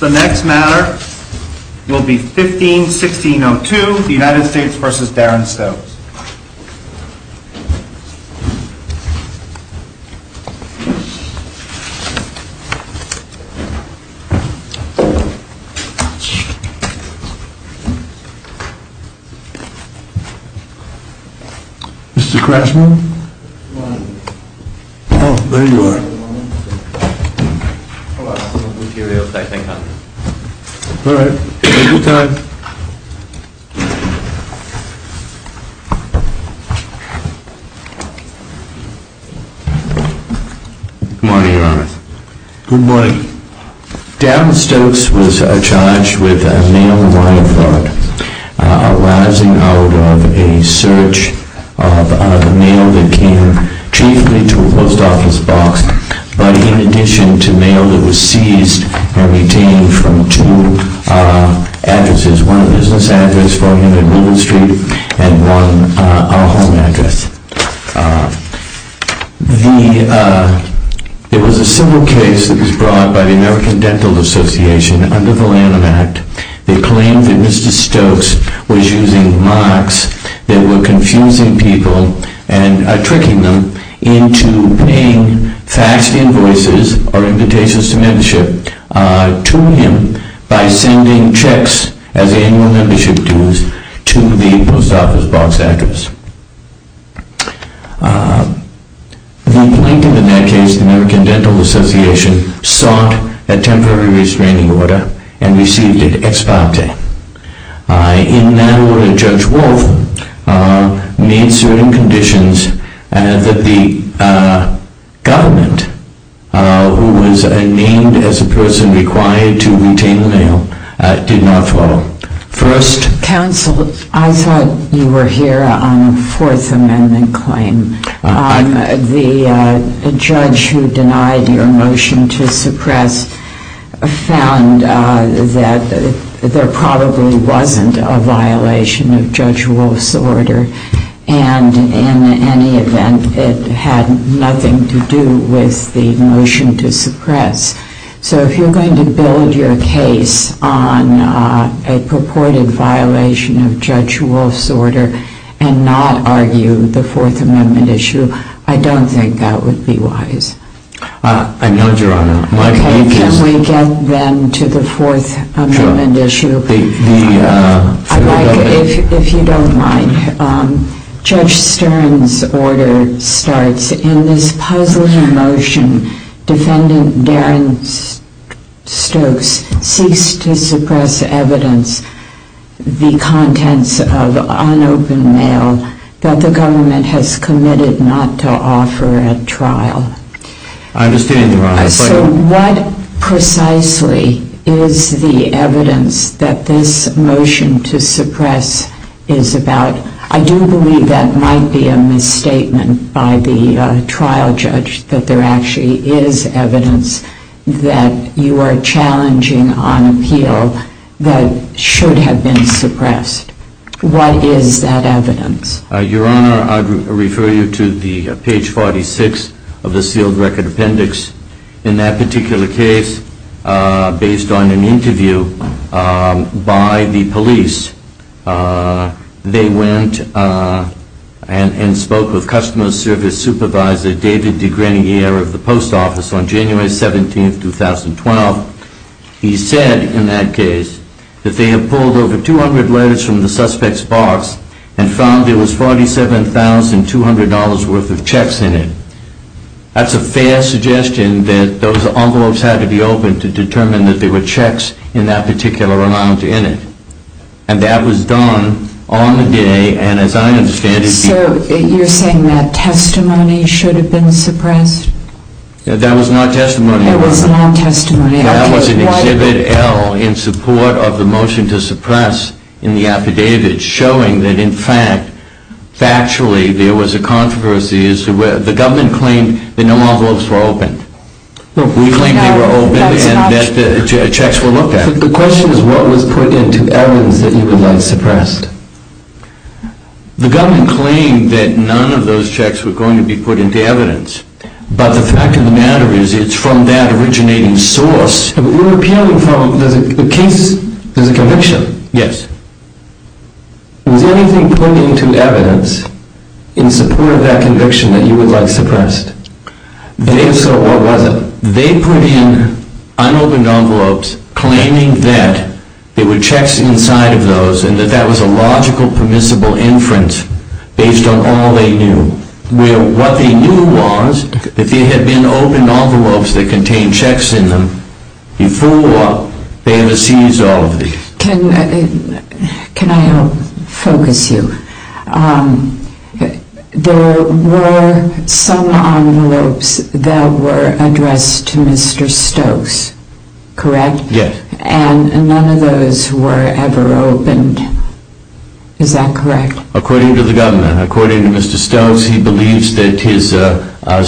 The next matter will be 15-1602, the United States v. Darren Stokes. Mr. Crashmore? Oh, there you are. All right. Take your time. Good morning, Your Honor. Good morning. Darren Stokes was charged with a mail-in-wire fraud, arousing out of a search of a mail that came chiefly to a post office box, but in addition to mail that was seized and retained from two addresses, one a business address for him at Middle Street and one a home address. It was a similar case that was brought by the American Dental Association under the Lanham Act. They claimed that Mr. Stokes was using marks that were confusing people and tricking them into paying faxed invoices or invitations to membership to him by sending checks as annual membership dues to the post office box address. The plaintiff in that case, the American Dental Association, sought a temporary restraining order and received it ex parte. In that order, Judge Wolf made certain conditions that the government, who was named as the person required to retain the mail, did not follow. First... Counsel, I thought you were here on a Fourth Amendment claim. The judge who denied your motion to suppress found that there probably wasn't a violation of Judge Wolf's order and in any event, it had nothing to do with the motion to suppress. So if you're going to build your case on a purported violation of Judge Wolf's order and not argue the Fourth Amendment issue, I don't think that would be wise. I know, Your Honor. Okay, can we get then to the Fourth Amendment issue? Sure. I'd like, if you don't mind, Judge Stern's order starts, In this puzzling motion, Defendant Darren Stokes seeks to suppress evidence, the contents of unopened mail that the government has committed not to offer at trial. I understand, Your Honor. So what precisely is the evidence that this motion to suppress is about? I do believe that might be a misstatement by the trial judge, that there actually is evidence that you are challenging on appeal that should have been suppressed. What is that evidence? Your Honor, I'd refer you to page 46 of the sealed record appendix. In that particular case, based on an interview by the police, they went and spoke with customer service supervisor David DeGrenier of the post office on January 17, 2012. He said in that case that they had pulled over 200 letters from the suspect's box and found there was $47,200 worth of checks in it. That's a fair suggestion that those envelopes had to be opened to determine that there were checks in that particular amount in it. And that was done on the day, and as I understand it... So you're saying that testimony should have been suppressed? That was not testimony, Your Honor. That was not testimony. That was an Exhibit L in support of the motion to suppress in the affidavit, showing that in fact, factually, there was a controversy. The government claimed that no envelopes were opened. We claimed they were opened and that the checks were looked at. The question is, what was put into evidence that you would like suppressed? The government claimed that none of those checks were going to be put into evidence. But the fact of the matter is, it's from that originating source. You're appealing from a case, there's a conviction. Yes. Was anything put into evidence in support of that conviction that you would like suppressed? If so, what was it? They put in unopened envelopes claiming that there were checks inside of those and that that was a logical permissible inference based on all they knew. What they knew was that there had been opened envelopes that contained checks in them before they ever seized all of these. Can I help focus you? There were some envelopes that were addressed to Mr. Stokes, correct? Yes. And none of those were ever opened. Is that correct? According to the government, according to Mr. Stokes, he believes that his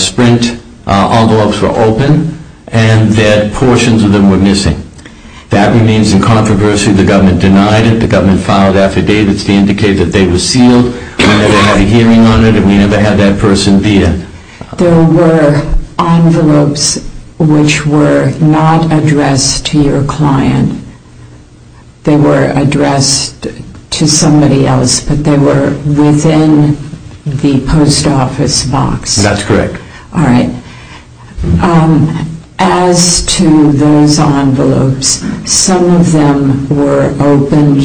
Sprint envelopes were open and that portions of them were missing. That remains in controversy. The government denied it. The government filed affidavits to indicate that they were sealed. We never had a hearing on it and we never had that person be in. There were envelopes which were not addressed to your client. They were addressed to somebody else, but they were within the post office box. That's correct. All right. As to those envelopes, some of them were opened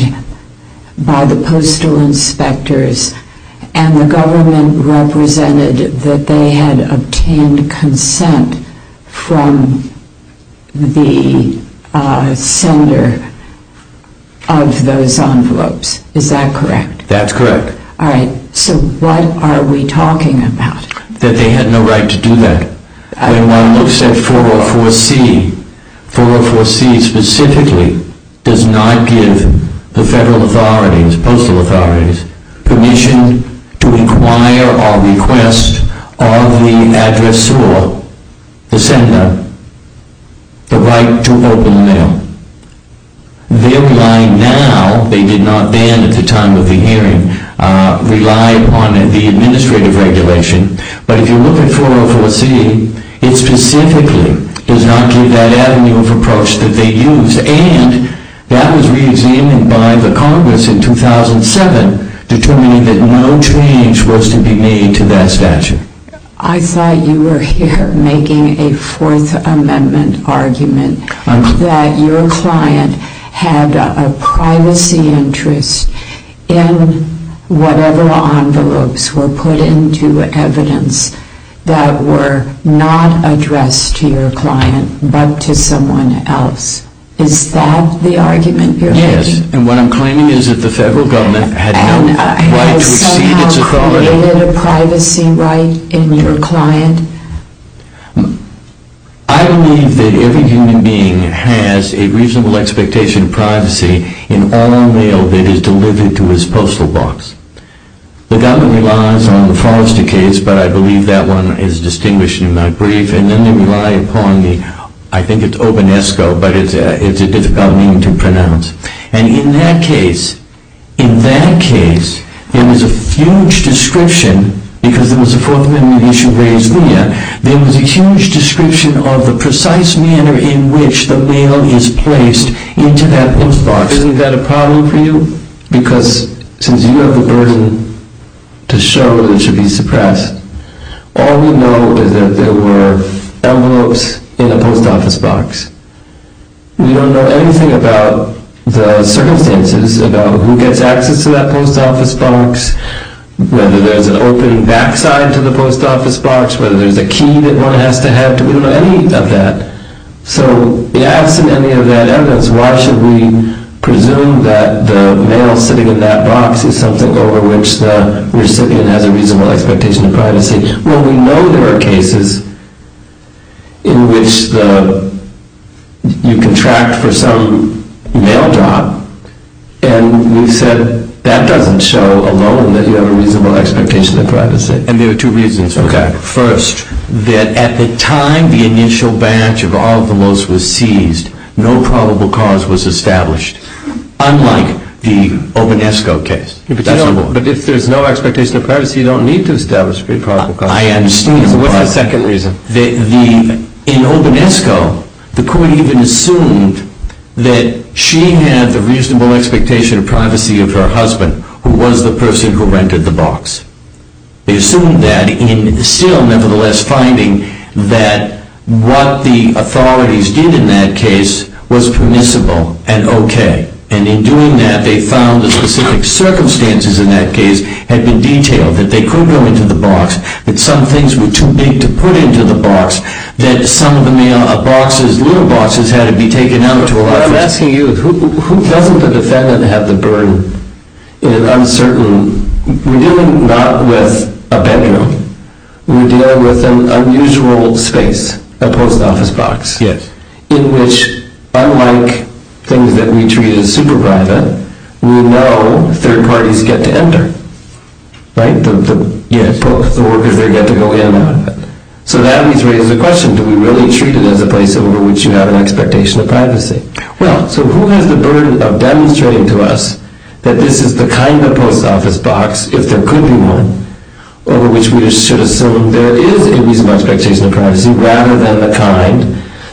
by the postal inspectors and the government represented that they had obtained consent from the sender of those envelopes. Is that correct? That's correct. All right. So what are we talking about? That they had no right to do that. When one looks at 404C, 404C specifically does not give the federal authorities, postal authorities, permission to inquire or request of the addressor, the sender, the right to open the mail. They're relying now, they did not then at the time of the hearing, rely upon the administrative regulation. But if you look at 404C, it specifically does not give that avenue of approach that they used and that was reexamined by the Congress in 2007, determining that no change was to be made to that statute. I thought you were here making a Fourth Amendment argument that your client had a privacy interest in whatever envelopes were put into evidence that were not addressed to your client but to someone else. Is that the argument you're making? Yes. And what I'm claiming is that the federal government had no right to exceed its authority. And has it somehow created a privacy right in your client? I believe that every human being has a reasonable expectation of privacy in all mail that is delivered to his postal box. The government relies on the Forrester case, but I believe that one is distinguished in my brief, and then they rely upon the, I think it's Obonesco, but it's a difficult name to pronounce. And in that case, in that case, there was a huge description, because there was a Fourth Amendment issue raised there, there was a huge description of the precise manner in which the mail is placed into that post box. Isn't that a problem for you? Because since you have the burden to show that it should be suppressed, all we know is that there were envelopes in a post office box. We don't know anything about the circumstances, about who gets access to that post office box, whether there's an opening backside to the post office box, whether there's a key that one has to have, we don't know any of that. So absent any of that evidence, why should we presume that the mail sitting in that box is something over which the recipient has a reasonable expectation of privacy? Well, we know there are cases in which you contract for some mail job, and we said that doesn't show alone that you have a reasonable expectation of privacy. And there are two reasons for that. First, that at the time the initial batch of envelopes was seized, no probable cause was established, unlike the Obonesco case. But if there's no expectation of privacy, you don't need to establish a probable cause. I understand. What's the second reason? In Obonesco, the court even assumed that she had the reasonable expectation of privacy of her husband, who was the person who rented the box. They assumed that in still, nevertheless, finding that what the authorities did in that case was permissible and okay. And in doing that, they found the specific circumstances in that case had been detailed, that they could go into the box, that some things were too big to put into the box, that some of the mail boxes, little boxes, had to be taken out to a... What I'm asking you is who doesn't the defendant have the burden in an uncertain... We're dealing not with a bedroom. We're dealing with an unusual space, a post office box. Yes. In which, unlike things that we treat as super private, we know third parties get to enter. Right? Yes. The workers there get to go in and out of it. So that needs to raise the question, do we really treat it as a place over which you have an expectation of privacy? Well, so who has the burden of demonstrating to us that this is the kind of post office box, if there could be one, over which we should assume there is a reasonable expectation of privacy, rather than the kind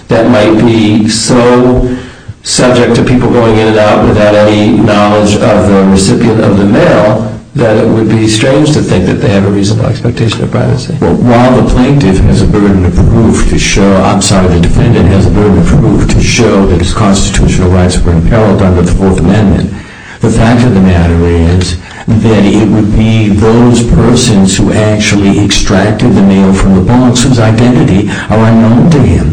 that might be so subject to people going in and out without any knowledge of the recipient of the mail, that it would be strange to think that they have a reasonable expectation of privacy. Well, while the plaintiff has a burden of proof to show... I'm sorry, the defendant has a burden of proof to show that his constitutional rights were in peril under the Fourth Amendment, the fact of the matter is that it would be those persons who actually extracted the mail from the box whose identity are unknown to him.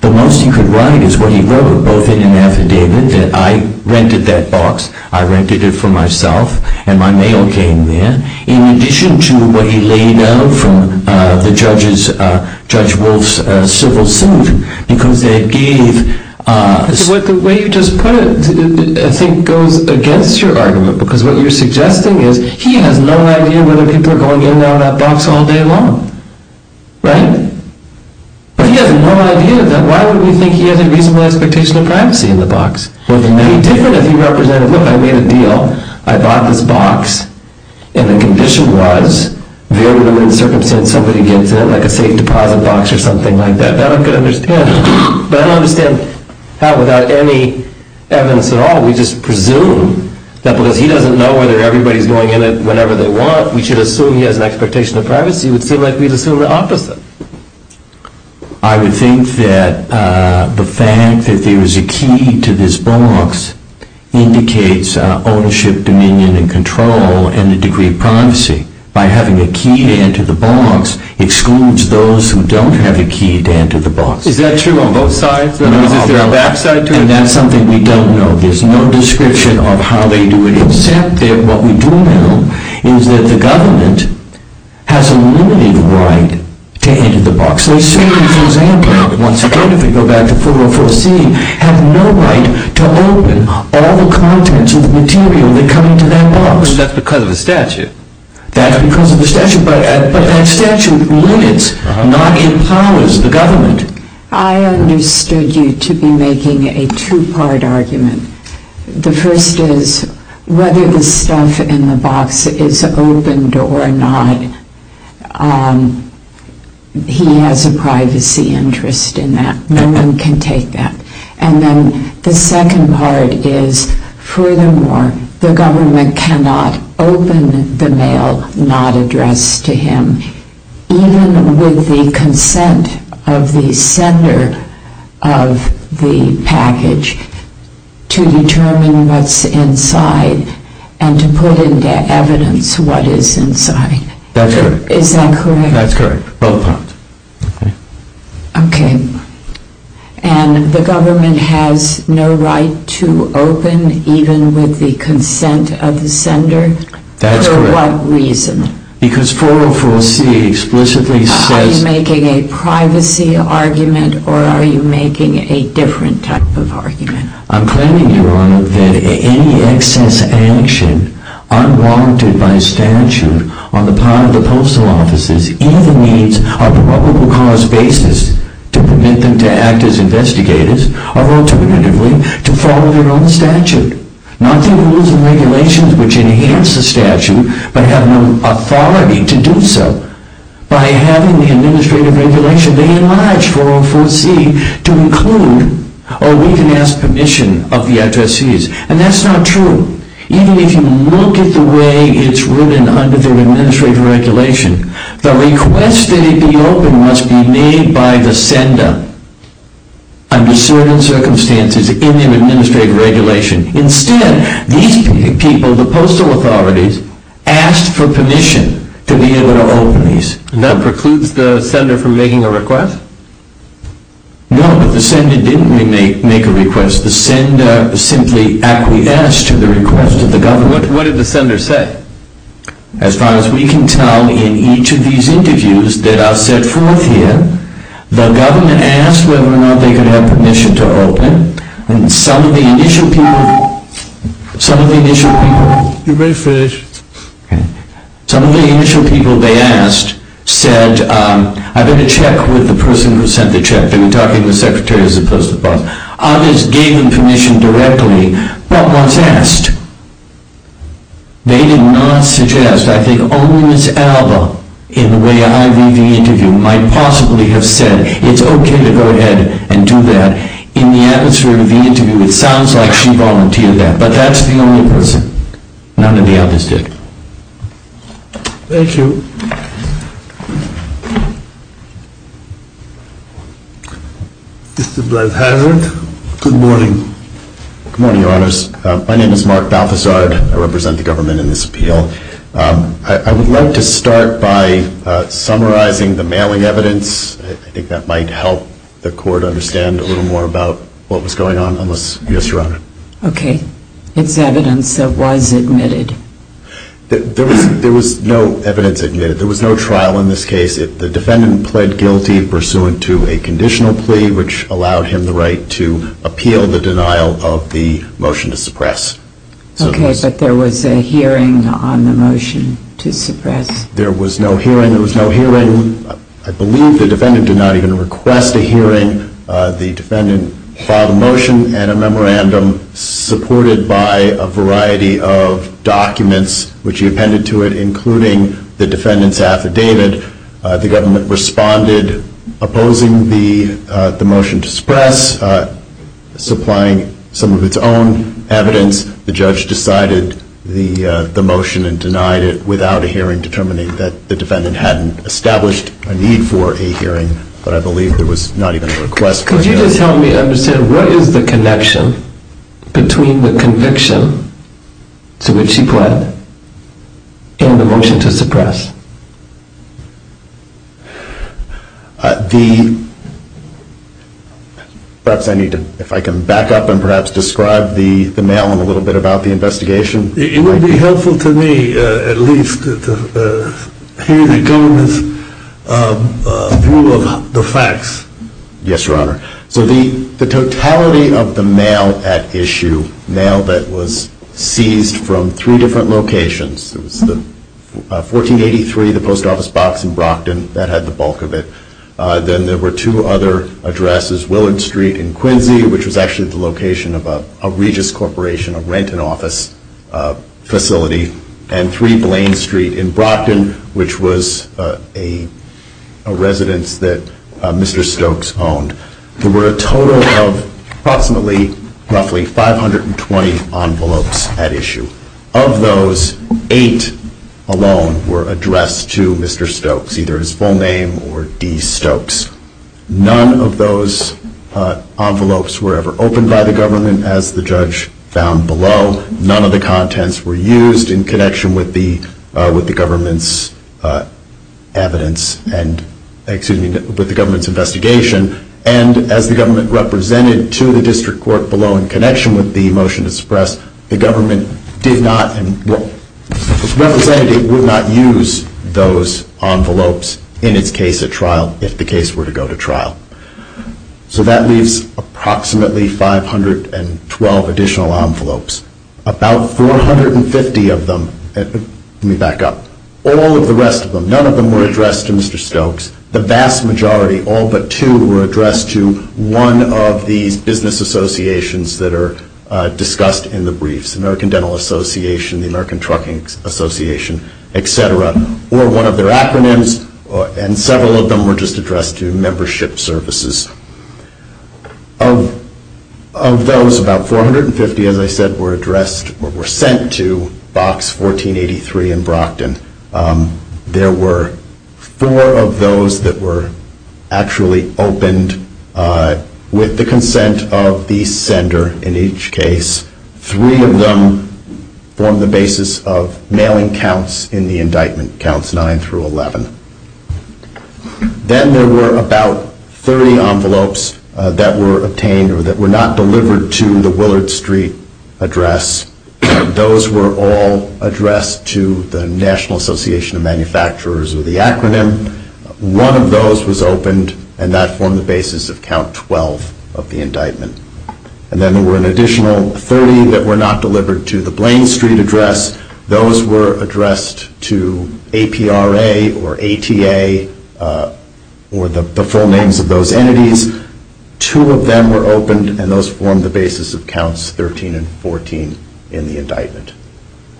The most he could write is what he wrote, both in an affidavit that I rented that box, I rented it for myself, and my mail came there, in addition to what he laid out from Judge Wolf's civil suit, because they gave... The way you just put it, I think, goes against your argument, because what you're suggesting is he has no idea whether people are going in and out of that box all day long. Right? But he has no idea that... Why would we think he has a reasonable expectation of privacy in the box? Would it be any different if he represented, look, I made a deal, I bought this box, and the condition was, very limited circumstance, somebody gets in it, like a safe deposit box or something like that. That I could understand. But I don't understand how, without any evidence at all, we just presume that because he doesn't know whether everybody's going in it whenever they want, we should assume he has an expectation of privacy? It would seem like we'd assume the opposite. I would think that the fact that there is a key to this box indicates ownership, dominion, and control, and a degree of privacy. By having a key to enter the box excludes those who don't have a key to enter the box. Is that true on both sides? No. Is there a back side to it? And that's something we don't know. There's no description of how they do it, except that what we do know is that the government has a limited right to enter the box. They certainly, for example, once again, if we go back to 404C, have no right to open all the contents of the material that come into that box. But that's because of the statute. That's because of the statute, but that statute limits, not empowers, the government. I understood you to be making a two-part argument. The first is whether the stuff in the box is opened or not, he has a privacy interest in that. No one can take that. And then the second part is, furthermore, the government cannot open the mail not addressed to him, even with the consent of the sender of the package to determine what's inside and to put into evidence what is inside. That's correct. Is that correct? That's correct, both sides. Okay. And the government has no right to open, even with the consent of the sender? That's correct. For what reason? Because 404C explicitly says... Are you making a privacy argument or are you making a different type of argument? I'm claiming, Your Honor, that any excess action unwanted by statute on the part of the postal offices either needs a probable cause basis to permit them to act as investigators or, alternatively, to follow their own statute, not through rules and regulations which enhance the statute but have no authority to do so. By having the administrative regulation, they enlarge 404C to include or even ask permission of the addressees. And that's not true. Even if you look at the way it's written under the administrative regulation, the request that it be opened must be made by the sender under certain circumstances in the administrative regulation. Instead, these people, the postal authorities, asked for permission to be able to open these. And that precludes the sender from making a request? No, but the sender didn't make a request. The sender simply acquiesced to the request of the government. What did the sender say? As far as we can tell in each of these interviews that are set forth here, the government asked whether or not they could have permission to open. And some of the initial people... You may finish. Some of the initial people they asked said, I better check with the person who sent the check. They were talking to the secretary as opposed to the boss. Others gave them permission directly, but once asked, they did not suggest. I think only Ms. Alba, in the way I read the interview, might possibly have said, it's okay to go ahead and do that. In the atmosphere of the interview, it sounds like she volunteered that. But that's the only person. None of the others did. Thank you. Mr. Balthazard, good morning. Good morning, Your Honors. My name is Mark Balthazard. I represent the government in this appeal. I would like to start by summarizing the mailing evidence. I think that might help the court understand a little more about what was going on. Ms. Thomas. Yes, Your Honor. Okay. It's evidence that was admitted. There was no evidence admitted. There was no trial in this case. The defendant pled guilty pursuant to a conditional plea, which allowed him the right to appeal the denial of the motion to suppress. Okay, but there was a hearing on the motion to suppress. There was no hearing. There was no hearing. I believe the defendant did not even request a hearing. The defendant filed a motion and a memorandum supported by a variety of documents, which he appended to it, including the defendant's affidavit. The government responded, opposing the motion to suppress, supplying some of its own evidence. The judge decided the motion and denied it without a hearing, determining that the defendant hadn't established a need for a hearing. But I believe there was not even a request for a hearing. Could you just help me understand, what is the connection between the conviction to which he pled and the motion to suppress? Perhaps I need to, if I can back up and perhaps describe the mail a little bit about the investigation. It would be helpful to me at least to hear the government's view of the facts. Yes, Your Honor. So the totality of the mail at issue, mail that was seized from three different locations, it was the 1483, the post office box in Brockton, that had the bulk of it. Then there were two other addresses, Willard Street in Quincy, which was actually the location of a Regis Corporation, a rent and office facility, and 3 Blaine Street in Brockton, which was a residence that Mr. Stokes owned. There were a total of approximately, roughly, 520 envelopes at issue. Of those, eight alone were addressed to Mr. Stokes, either his full name or D. Stokes. None of those envelopes were ever opened by the government, as the judge found below. None of the contents were used in connection with the government's investigation. And as the government represented to the district court below, in connection with the motion to suppress, the government represented it would not use those envelopes in its case at trial if the case were to go to trial. So that leaves approximately 512 additional envelopes. About 450 of them, let me back up, all of the rest of them, none of them were addressed to Mr. Stokes. The vast majority, all but two, were addressed to one of these business associations that are discussed in the briefs, American Dental Association, the American Trucking Association, etc. or one of their acronyms, and several of them were just addressed to membership services. Of those, about 450, as I said, were addressed or were sent to Box 1483 in Brockton. There were four of those that were actually opened with the consent of the sender in each case. Three of them formed the basis of mailing counts in the indictment, counts 9 through 11. Then there were about 30 envelopes that were obtained or that were not delivered to the Willard Street address. Those were all addressed to the National Association of Manufacturers or the acronym. One of those was opened, and that formed the basis of count 12 of the indictment. And then there were an additional 30 that were not delivered to the Blaine Street address. Those were addressed to APRA or ATA or the full names of those entities. Two of them were opened, and those formed the basis of counts 13 and 14 in the indictment.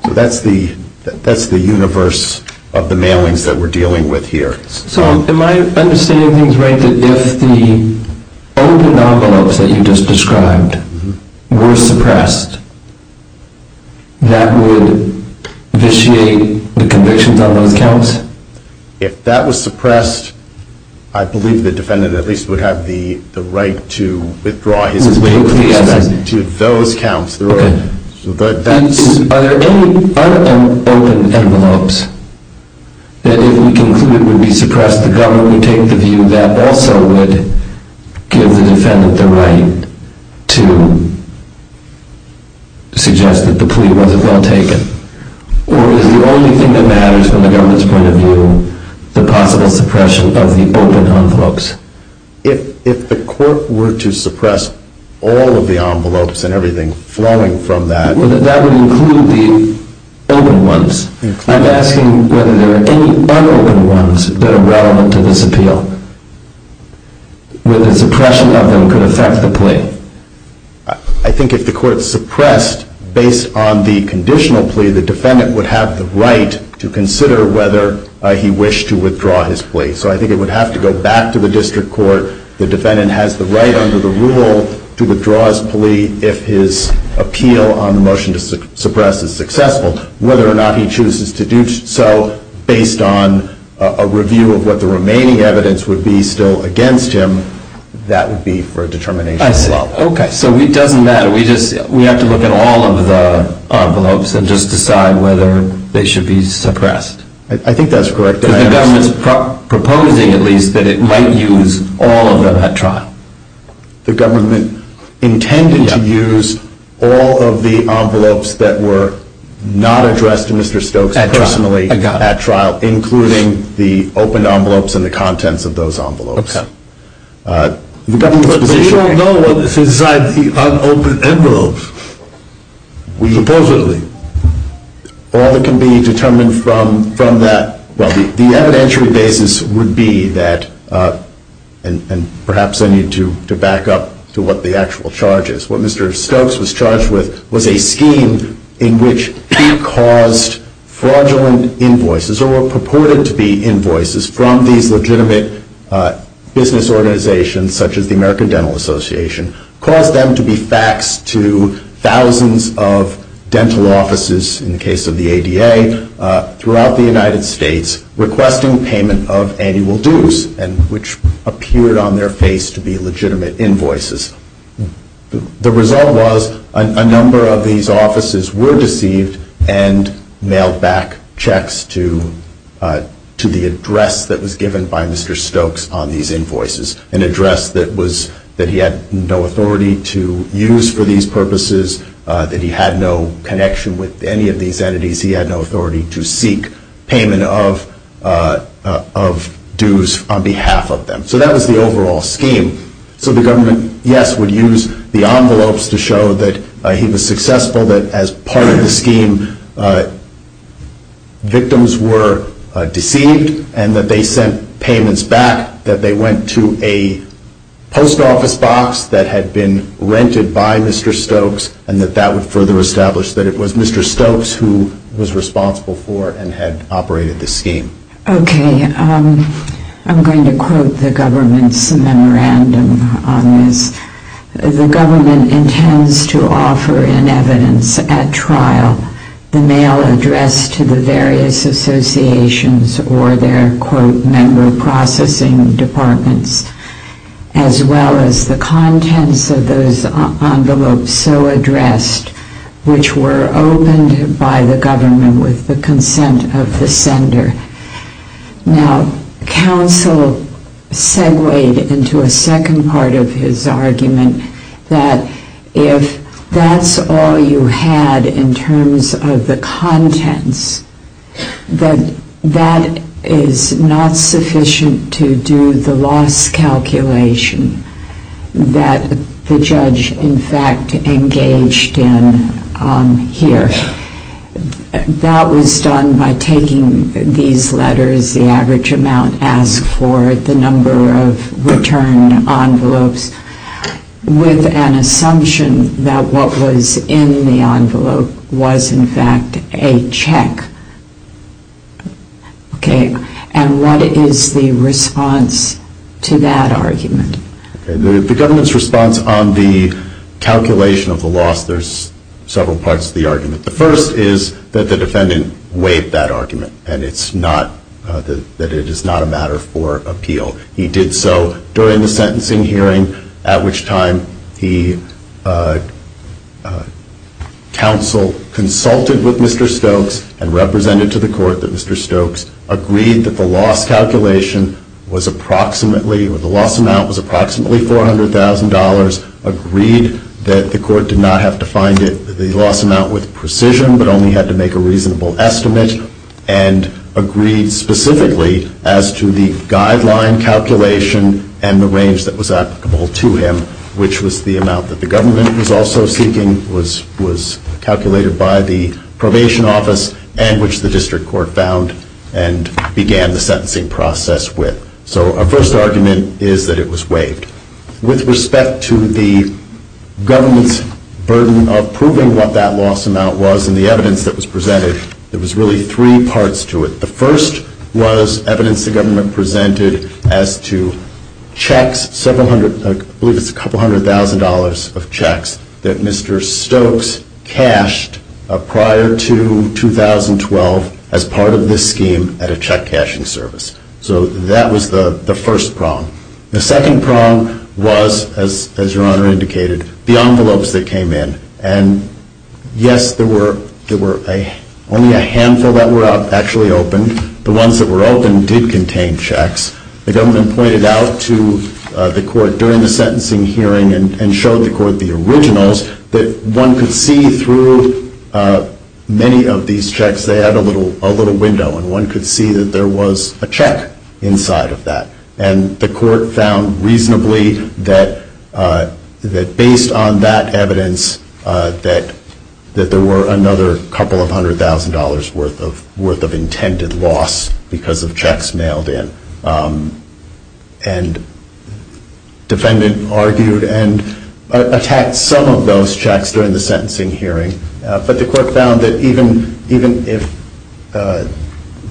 So that's the universe of the mailings that we're dealing with here. So am I understanding things right that if the open envelopes that you just described were suppressed, that would vitiate the convictions on those counts? If that was suppressed, I believe the defendant at least would have the right to withdraw his complaint to those counts. Are there any unopened envelopes that if we conclude would be suppressed, the government would take the view that also would give the defendant the right to suggest that the plea wasn't well taken? Or is the only thing that matters from the government's point of view the possible suppression of the open envelopes? If the court were to suppress all of the envelopes and everything flowing from that... That would include the open ones. I'm asking whether there are any unopened ones that are relevant to this appeal, where the suppression of them could affect the plea. I think if the court suppressed based on the conditional plea, the defendant would have the right to consider whether he wished to withdraw his plea. So I think it would have to go back to the district court. The defendant has the right under the rule to withdraw his plea if his appeal on the motion to suppress is successful. Whether or not he chooses to do so based on a review of what the remaining evidence would be still against him, that would be for a determination. I see. Okay. So it doesn't matter. We have to look at all of the envelopes and just decide whether they should be suppressed. I think that's correct. The government is proposing, at least, that it might use all of them at trial. The government intended to use all of the envelopes that were not addressed to Mr. Stokes personally at trial, including the open envelopes and the contents of those envelopes. Okay. But we don't know what's inside the unopened envelopes, supposedly. All that can be determined from that, well, the evidentiary basis would be that, and perhaps I need to back up to what the actual charge is, what Mr. Stokes was charged with was a scheme in which he caused fraudulent invoices or were purported to be invoices from these legitimate business organizations, such as the American Dental Association, caused them to be faxed to thousands of dental offices, in the case of the ADA, throughout the United States requesting payment of annual dues, which appeared on their face to be legitimate invoices. The result was a number of these offices were deceived and mailed back checks to the address that was given by Mr. Stokes on these invoices, an address that he had no authority to use for these purposes, that he had no connection with any of these entities. He had no authority to seek payment of dues on behalf of them. So that was the overall scheme. So the government, yes, would use the envelopes to show that he was successful, that as part of the scheme victims were deceived and that they sent payments back, that they went to a post office box that had been rented by Mr. Stokes and that that would further establish that it was Mr. Stokes who was responsible for and had operated the scheme. Okay. I'm going to quote the government's memorandum on this. The government intends to offer in evidence at trial the mail addressed to the various associations or their, quote, member processing departments, as well as the contents of those envelopes so addressed, which were opened by the government with the consent of the sender. Now, counsel segued into a second part of his argument that if that's all you had in terms of the contents, that that is not sufficient to do the loss calculation that the judge, in fact, engaged in here. That was done by taking these letters, the average amount asked for, the number of return envelopes, with an assumption that what was in the envelope was, in fact, a check. Okay. And what is the response to that argument? The government's response on the calculation of the loss, there's several parts to the argument. The first is that the defendant weighed that argument and that it is not a matter for appeal. He did so during the sentencing hearing, at which time the counsel consulted with Mr. Stokes and represented to the court that Mr. Stokes agreed that the loss calculation was approximately, or the loss amount was approximately $400,000, agreed that the court did not have to find the loss amount with precision, but only had to make a reasonable estimate, and agreed specifically as to the guideline calculation and the range that was applicable to him, which was the amount that the government was also seeking, was calculated by the probation office, and which the district court found and began the sentencing process with. So our first argument is that it was waived. With respect to the government's burden of proving what that loss amount was and the evidence that was presented, there was really three parts to it. The first was evidence the government presented as to checks, I believe it's a couple hundred thousand dollars of checks, that Mr. Stokes cashed prior to 2012 as part of this scheme at a check-cashing service. So that was the first prong. The second prong was, as Your Honor indicated, the envelopes that came in. And yes, there were only a handful that were actually opened. The ones that were opened did contain checks. The government pointed out to the court during the sentencing hearing and showed the court the originals, that one could see through many of these checks, they had a little window, and one could see that there was a check inside of that. And the court found reasonably that based on that evidence, that there were another couple of hundred thousand dollars worth of intended loss because of checks mailed in. And the defendant argued and attacked some of those checks during the sentencing hearing, but the court found that even if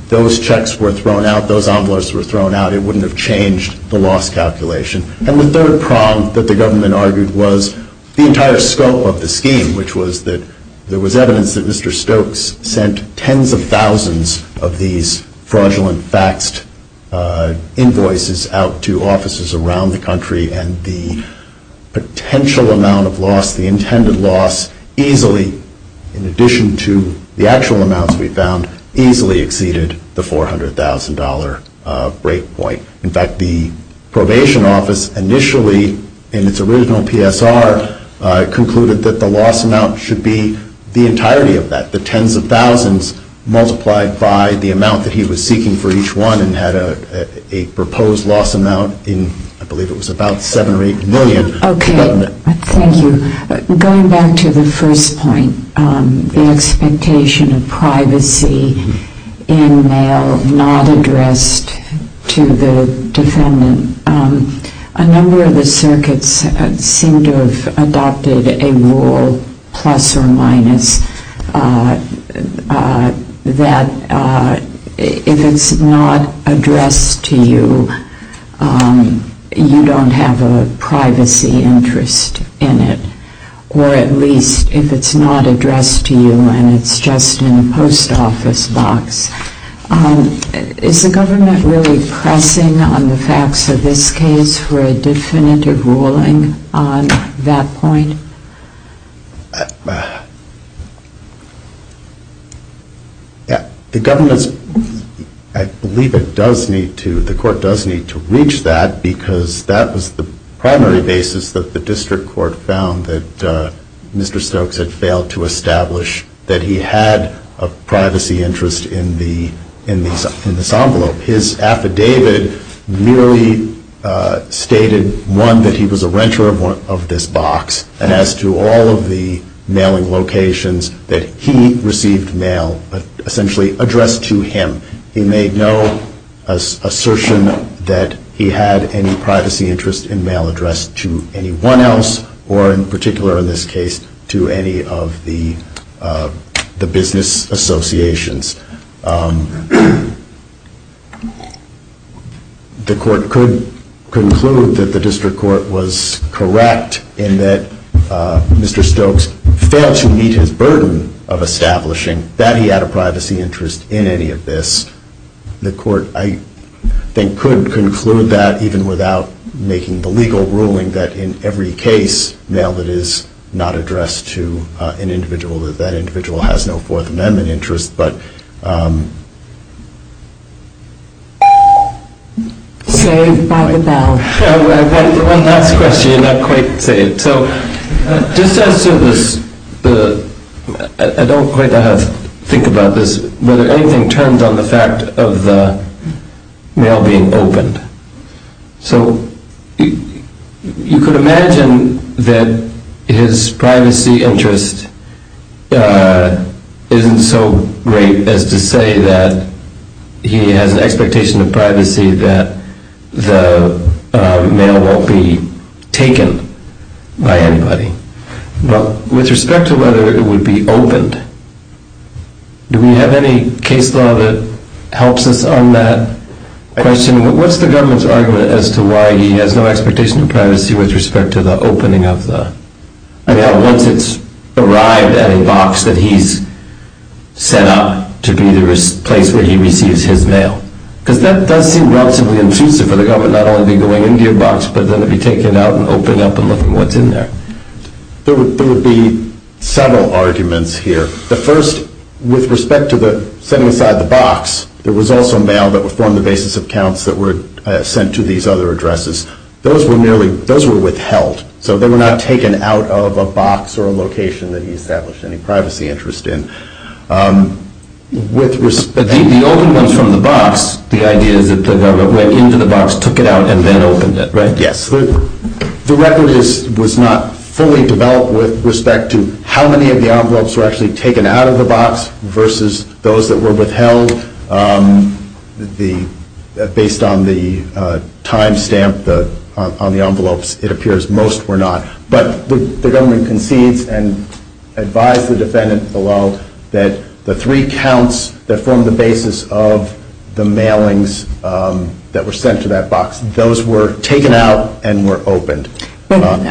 those checks were thrown out, those envelopes were thrown out, it wouldn't have changed the loss calculation. And the third prong that the government argued was the entire scope of the scheme, which was that there was evidence that Mr. Stokes sent tens of thousands of these fraudulent faxed invoices out to offices around the country, and the potential amount of loss, the intended loss, easily, in addition to the actual amounts we found, easily exceeded the $400,000 break point. In fact, the probation office initially, in its original PSR, concluded that the loss amount should be the entirety of that, the tens of thousands multiplied by the amount that he was seeking for each one and had a proposed loss amount in, I believe it was about 7 or 8 million. Okay, thank you. Going back to the first point, the expectation of privacy in mail not addressed to the defendant, a number of the circuits seem to have adopted a rule, plus or minus, that if it's not addressed to you, you don't have a privacy interest in it, or at least if it's not addressed to you and it's just in a post office box. Is the government really pressing on the facts of this case for a definitive ruling on that point? The government's, I believe it does need to, the court does need to reach that because that was the primary basis that the district court found that Mr. Stokes had failed to establish that he had a privacy interest in this envelope. His affidavit merely stated, one, that he was a renter of this box, and as to all of the mailing locations that he received mail, essentially addressed to him. He made no assertion that he had any privacy interest in mail addressed to anyone else, or in particular in this case, to any of the business associations. The court could conclude that the district court was correct in that Mr. Stokes failed to meet his burden of establishing that he had a privacy interest in any of this. The court, I think, could conclude that even without making the legal ruling that in every case, mail that is not addressed to an individual, that that individual has no Fourth Amendment interest. Saved by the bell. One last question and I'll quite say it. So just as to this, I don't quite know how to think about this, whether anything turns on the fact of the mail being opened. So you could imagine that his privacy interest isn't so great as to say that he has an expectation of privacy that the mail won't be taken by anybody. But with respect to whether it would be opened, do we have any case law that helps us on that question? What's the government's argument as to why he has no expectation of privacy with respect to the opening of the mail once it's arrived at a box that he's set up to be the place where he receives his mail? Because that does seem relatively intrusive for the government not only to be going into your box, but then to be taking it out and opening it up and looking what's in there. There would be several arguments here. The first, with respect to the setting aside the box, there was also mail that would form the basis of counts that were sent to these other addresses. Those were withheld, so they were not taken out of a box or a location that he established any privacy interest in. The only ones from the box, the idea is that the government went into the box, took it out, and then opened it, right? Yes. The record was not fully developed with respect to how many of the envelopes were actually taken out of the box versus those that were withheld. Based on the time stamp on the envelopes, it appears most were not. But the government concedes and advised the defendant below that the three counts that form the basis of the mailings that were sent to that box, those were taken out and were opened. But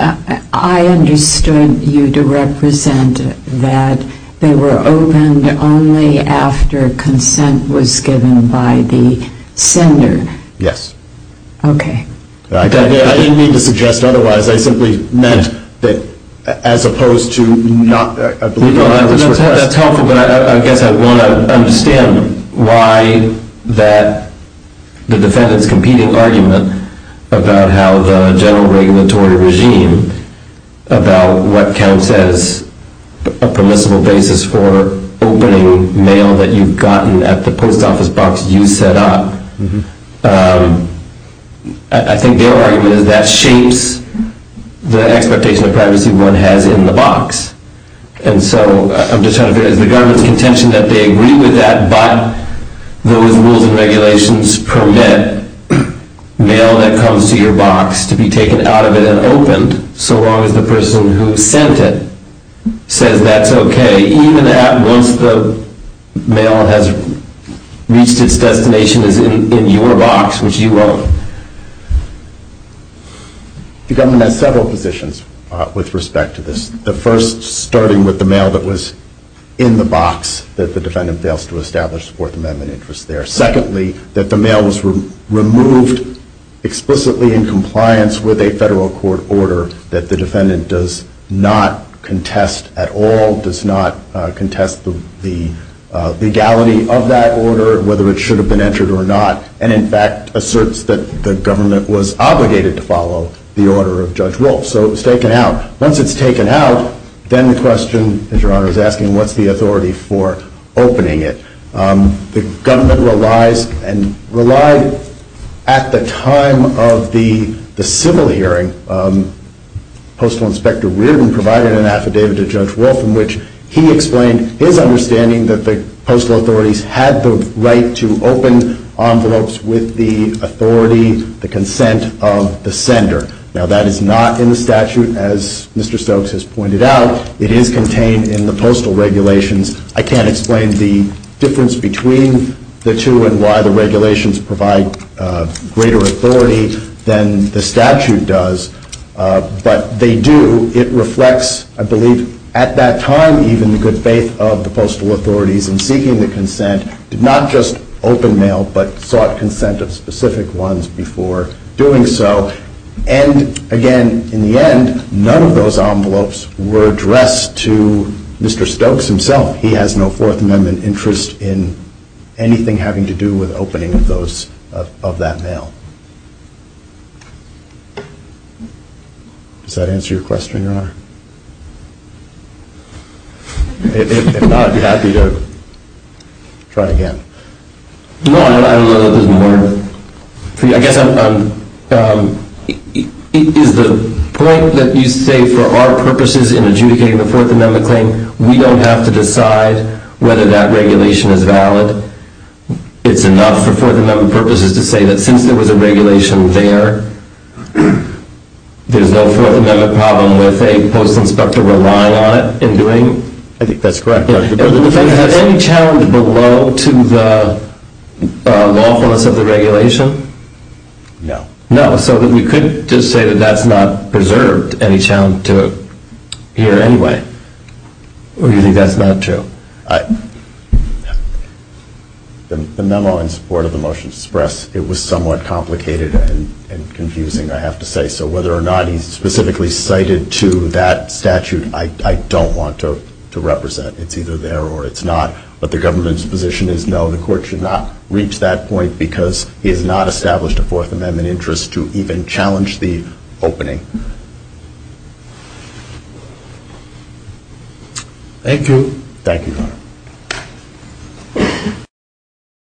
I understood you to represent that they were opened only after consent was given by the sender. Yes. Okay. I didn't mean to suggest otherwise. I simply meant that as opposed to not, I believe, the envelopes were tested. That's helpful, but I guess I want to understand why the defendant's competing argument about how the general regulatory regime about what counts as a permissible basis for opening mail that you've gotten at the post office box you set up, I think their argument is that shapes the expectation of privacy one has in the box. And so I'm just trying to figure, is the government's contention that they agree with that but those rules and regulations permit mail that comes to your box to be taken out of it and opened so long as the person who sent it says that's okay, even once the mail has reached its destination, is in your box, which you own? The government has several positions with respect to this. The first, starting with the mail that was in the box that the defendant fails to establish Fourth Amendment interest there. Secondly, that the mail was removed explicitly in compliance with a federal court order that the defendant does not contest at all, does not contest the legality of that order, whether it should have been entered or not, and in fact asserts that the government was obligated to follow the order of Judge Wolf. So it was taken out. Once it's taken out, then the question, as Your Honor is asking, what's the authority for opening it? The government relies, and relied at the time of the civil hearing, Postal Inspector Reardon provided an affidavit to Judge Wolf in which he explained his understanding that the postal authorities had the right to open envelopes with the authority, the consent of the sender. Now that is not in the statute, as Mr. Stokes has pointed out. It is contained in the postal regulations. I can't explain the difference between the two and why the regulations provide greater authority than the statute does, but they do. It reflects, I believe, at that time, even the good faith of the postal authorities in seeking the consent to not just open mail, but sought consent of specific ones before doing so. And again, in the end, none of those envelopes were addressed to Mr. Stokes himself. He has no Fourth Amendment interest in anything having to do with opening of that mail. Does that answer your question, Your Honor? If not, I'd be happy to try again. No, I don't know that there's more. I guess, is the point that you say for our purposes in adjudicating the Fourth Amendment claim, we don't have to decide whether that regulation is valid? It's enough for Fourth Amendment purposes to say that since there was a regulation there, there's no Fourth Amendment problem with a Postal Inspector relying on it in doing? I think that's correct, Your Honor. Is there any challenge below to the lawfulness of the regulation? No. No, so we could just say that that's not preserved any challenge to it here anyway? Or do you think that's not true? The memo in support of the motion to express, it was somewhat complicated and confusing, I have to say. So whether or not he specifically cited to that statute, I don't want to represent. It's either there or it's not. But the government's position is no, the court should not reach that point because he has not established a Fourth Amendment interest to even challenge the opening. Thank you. Thank you, Your Honor.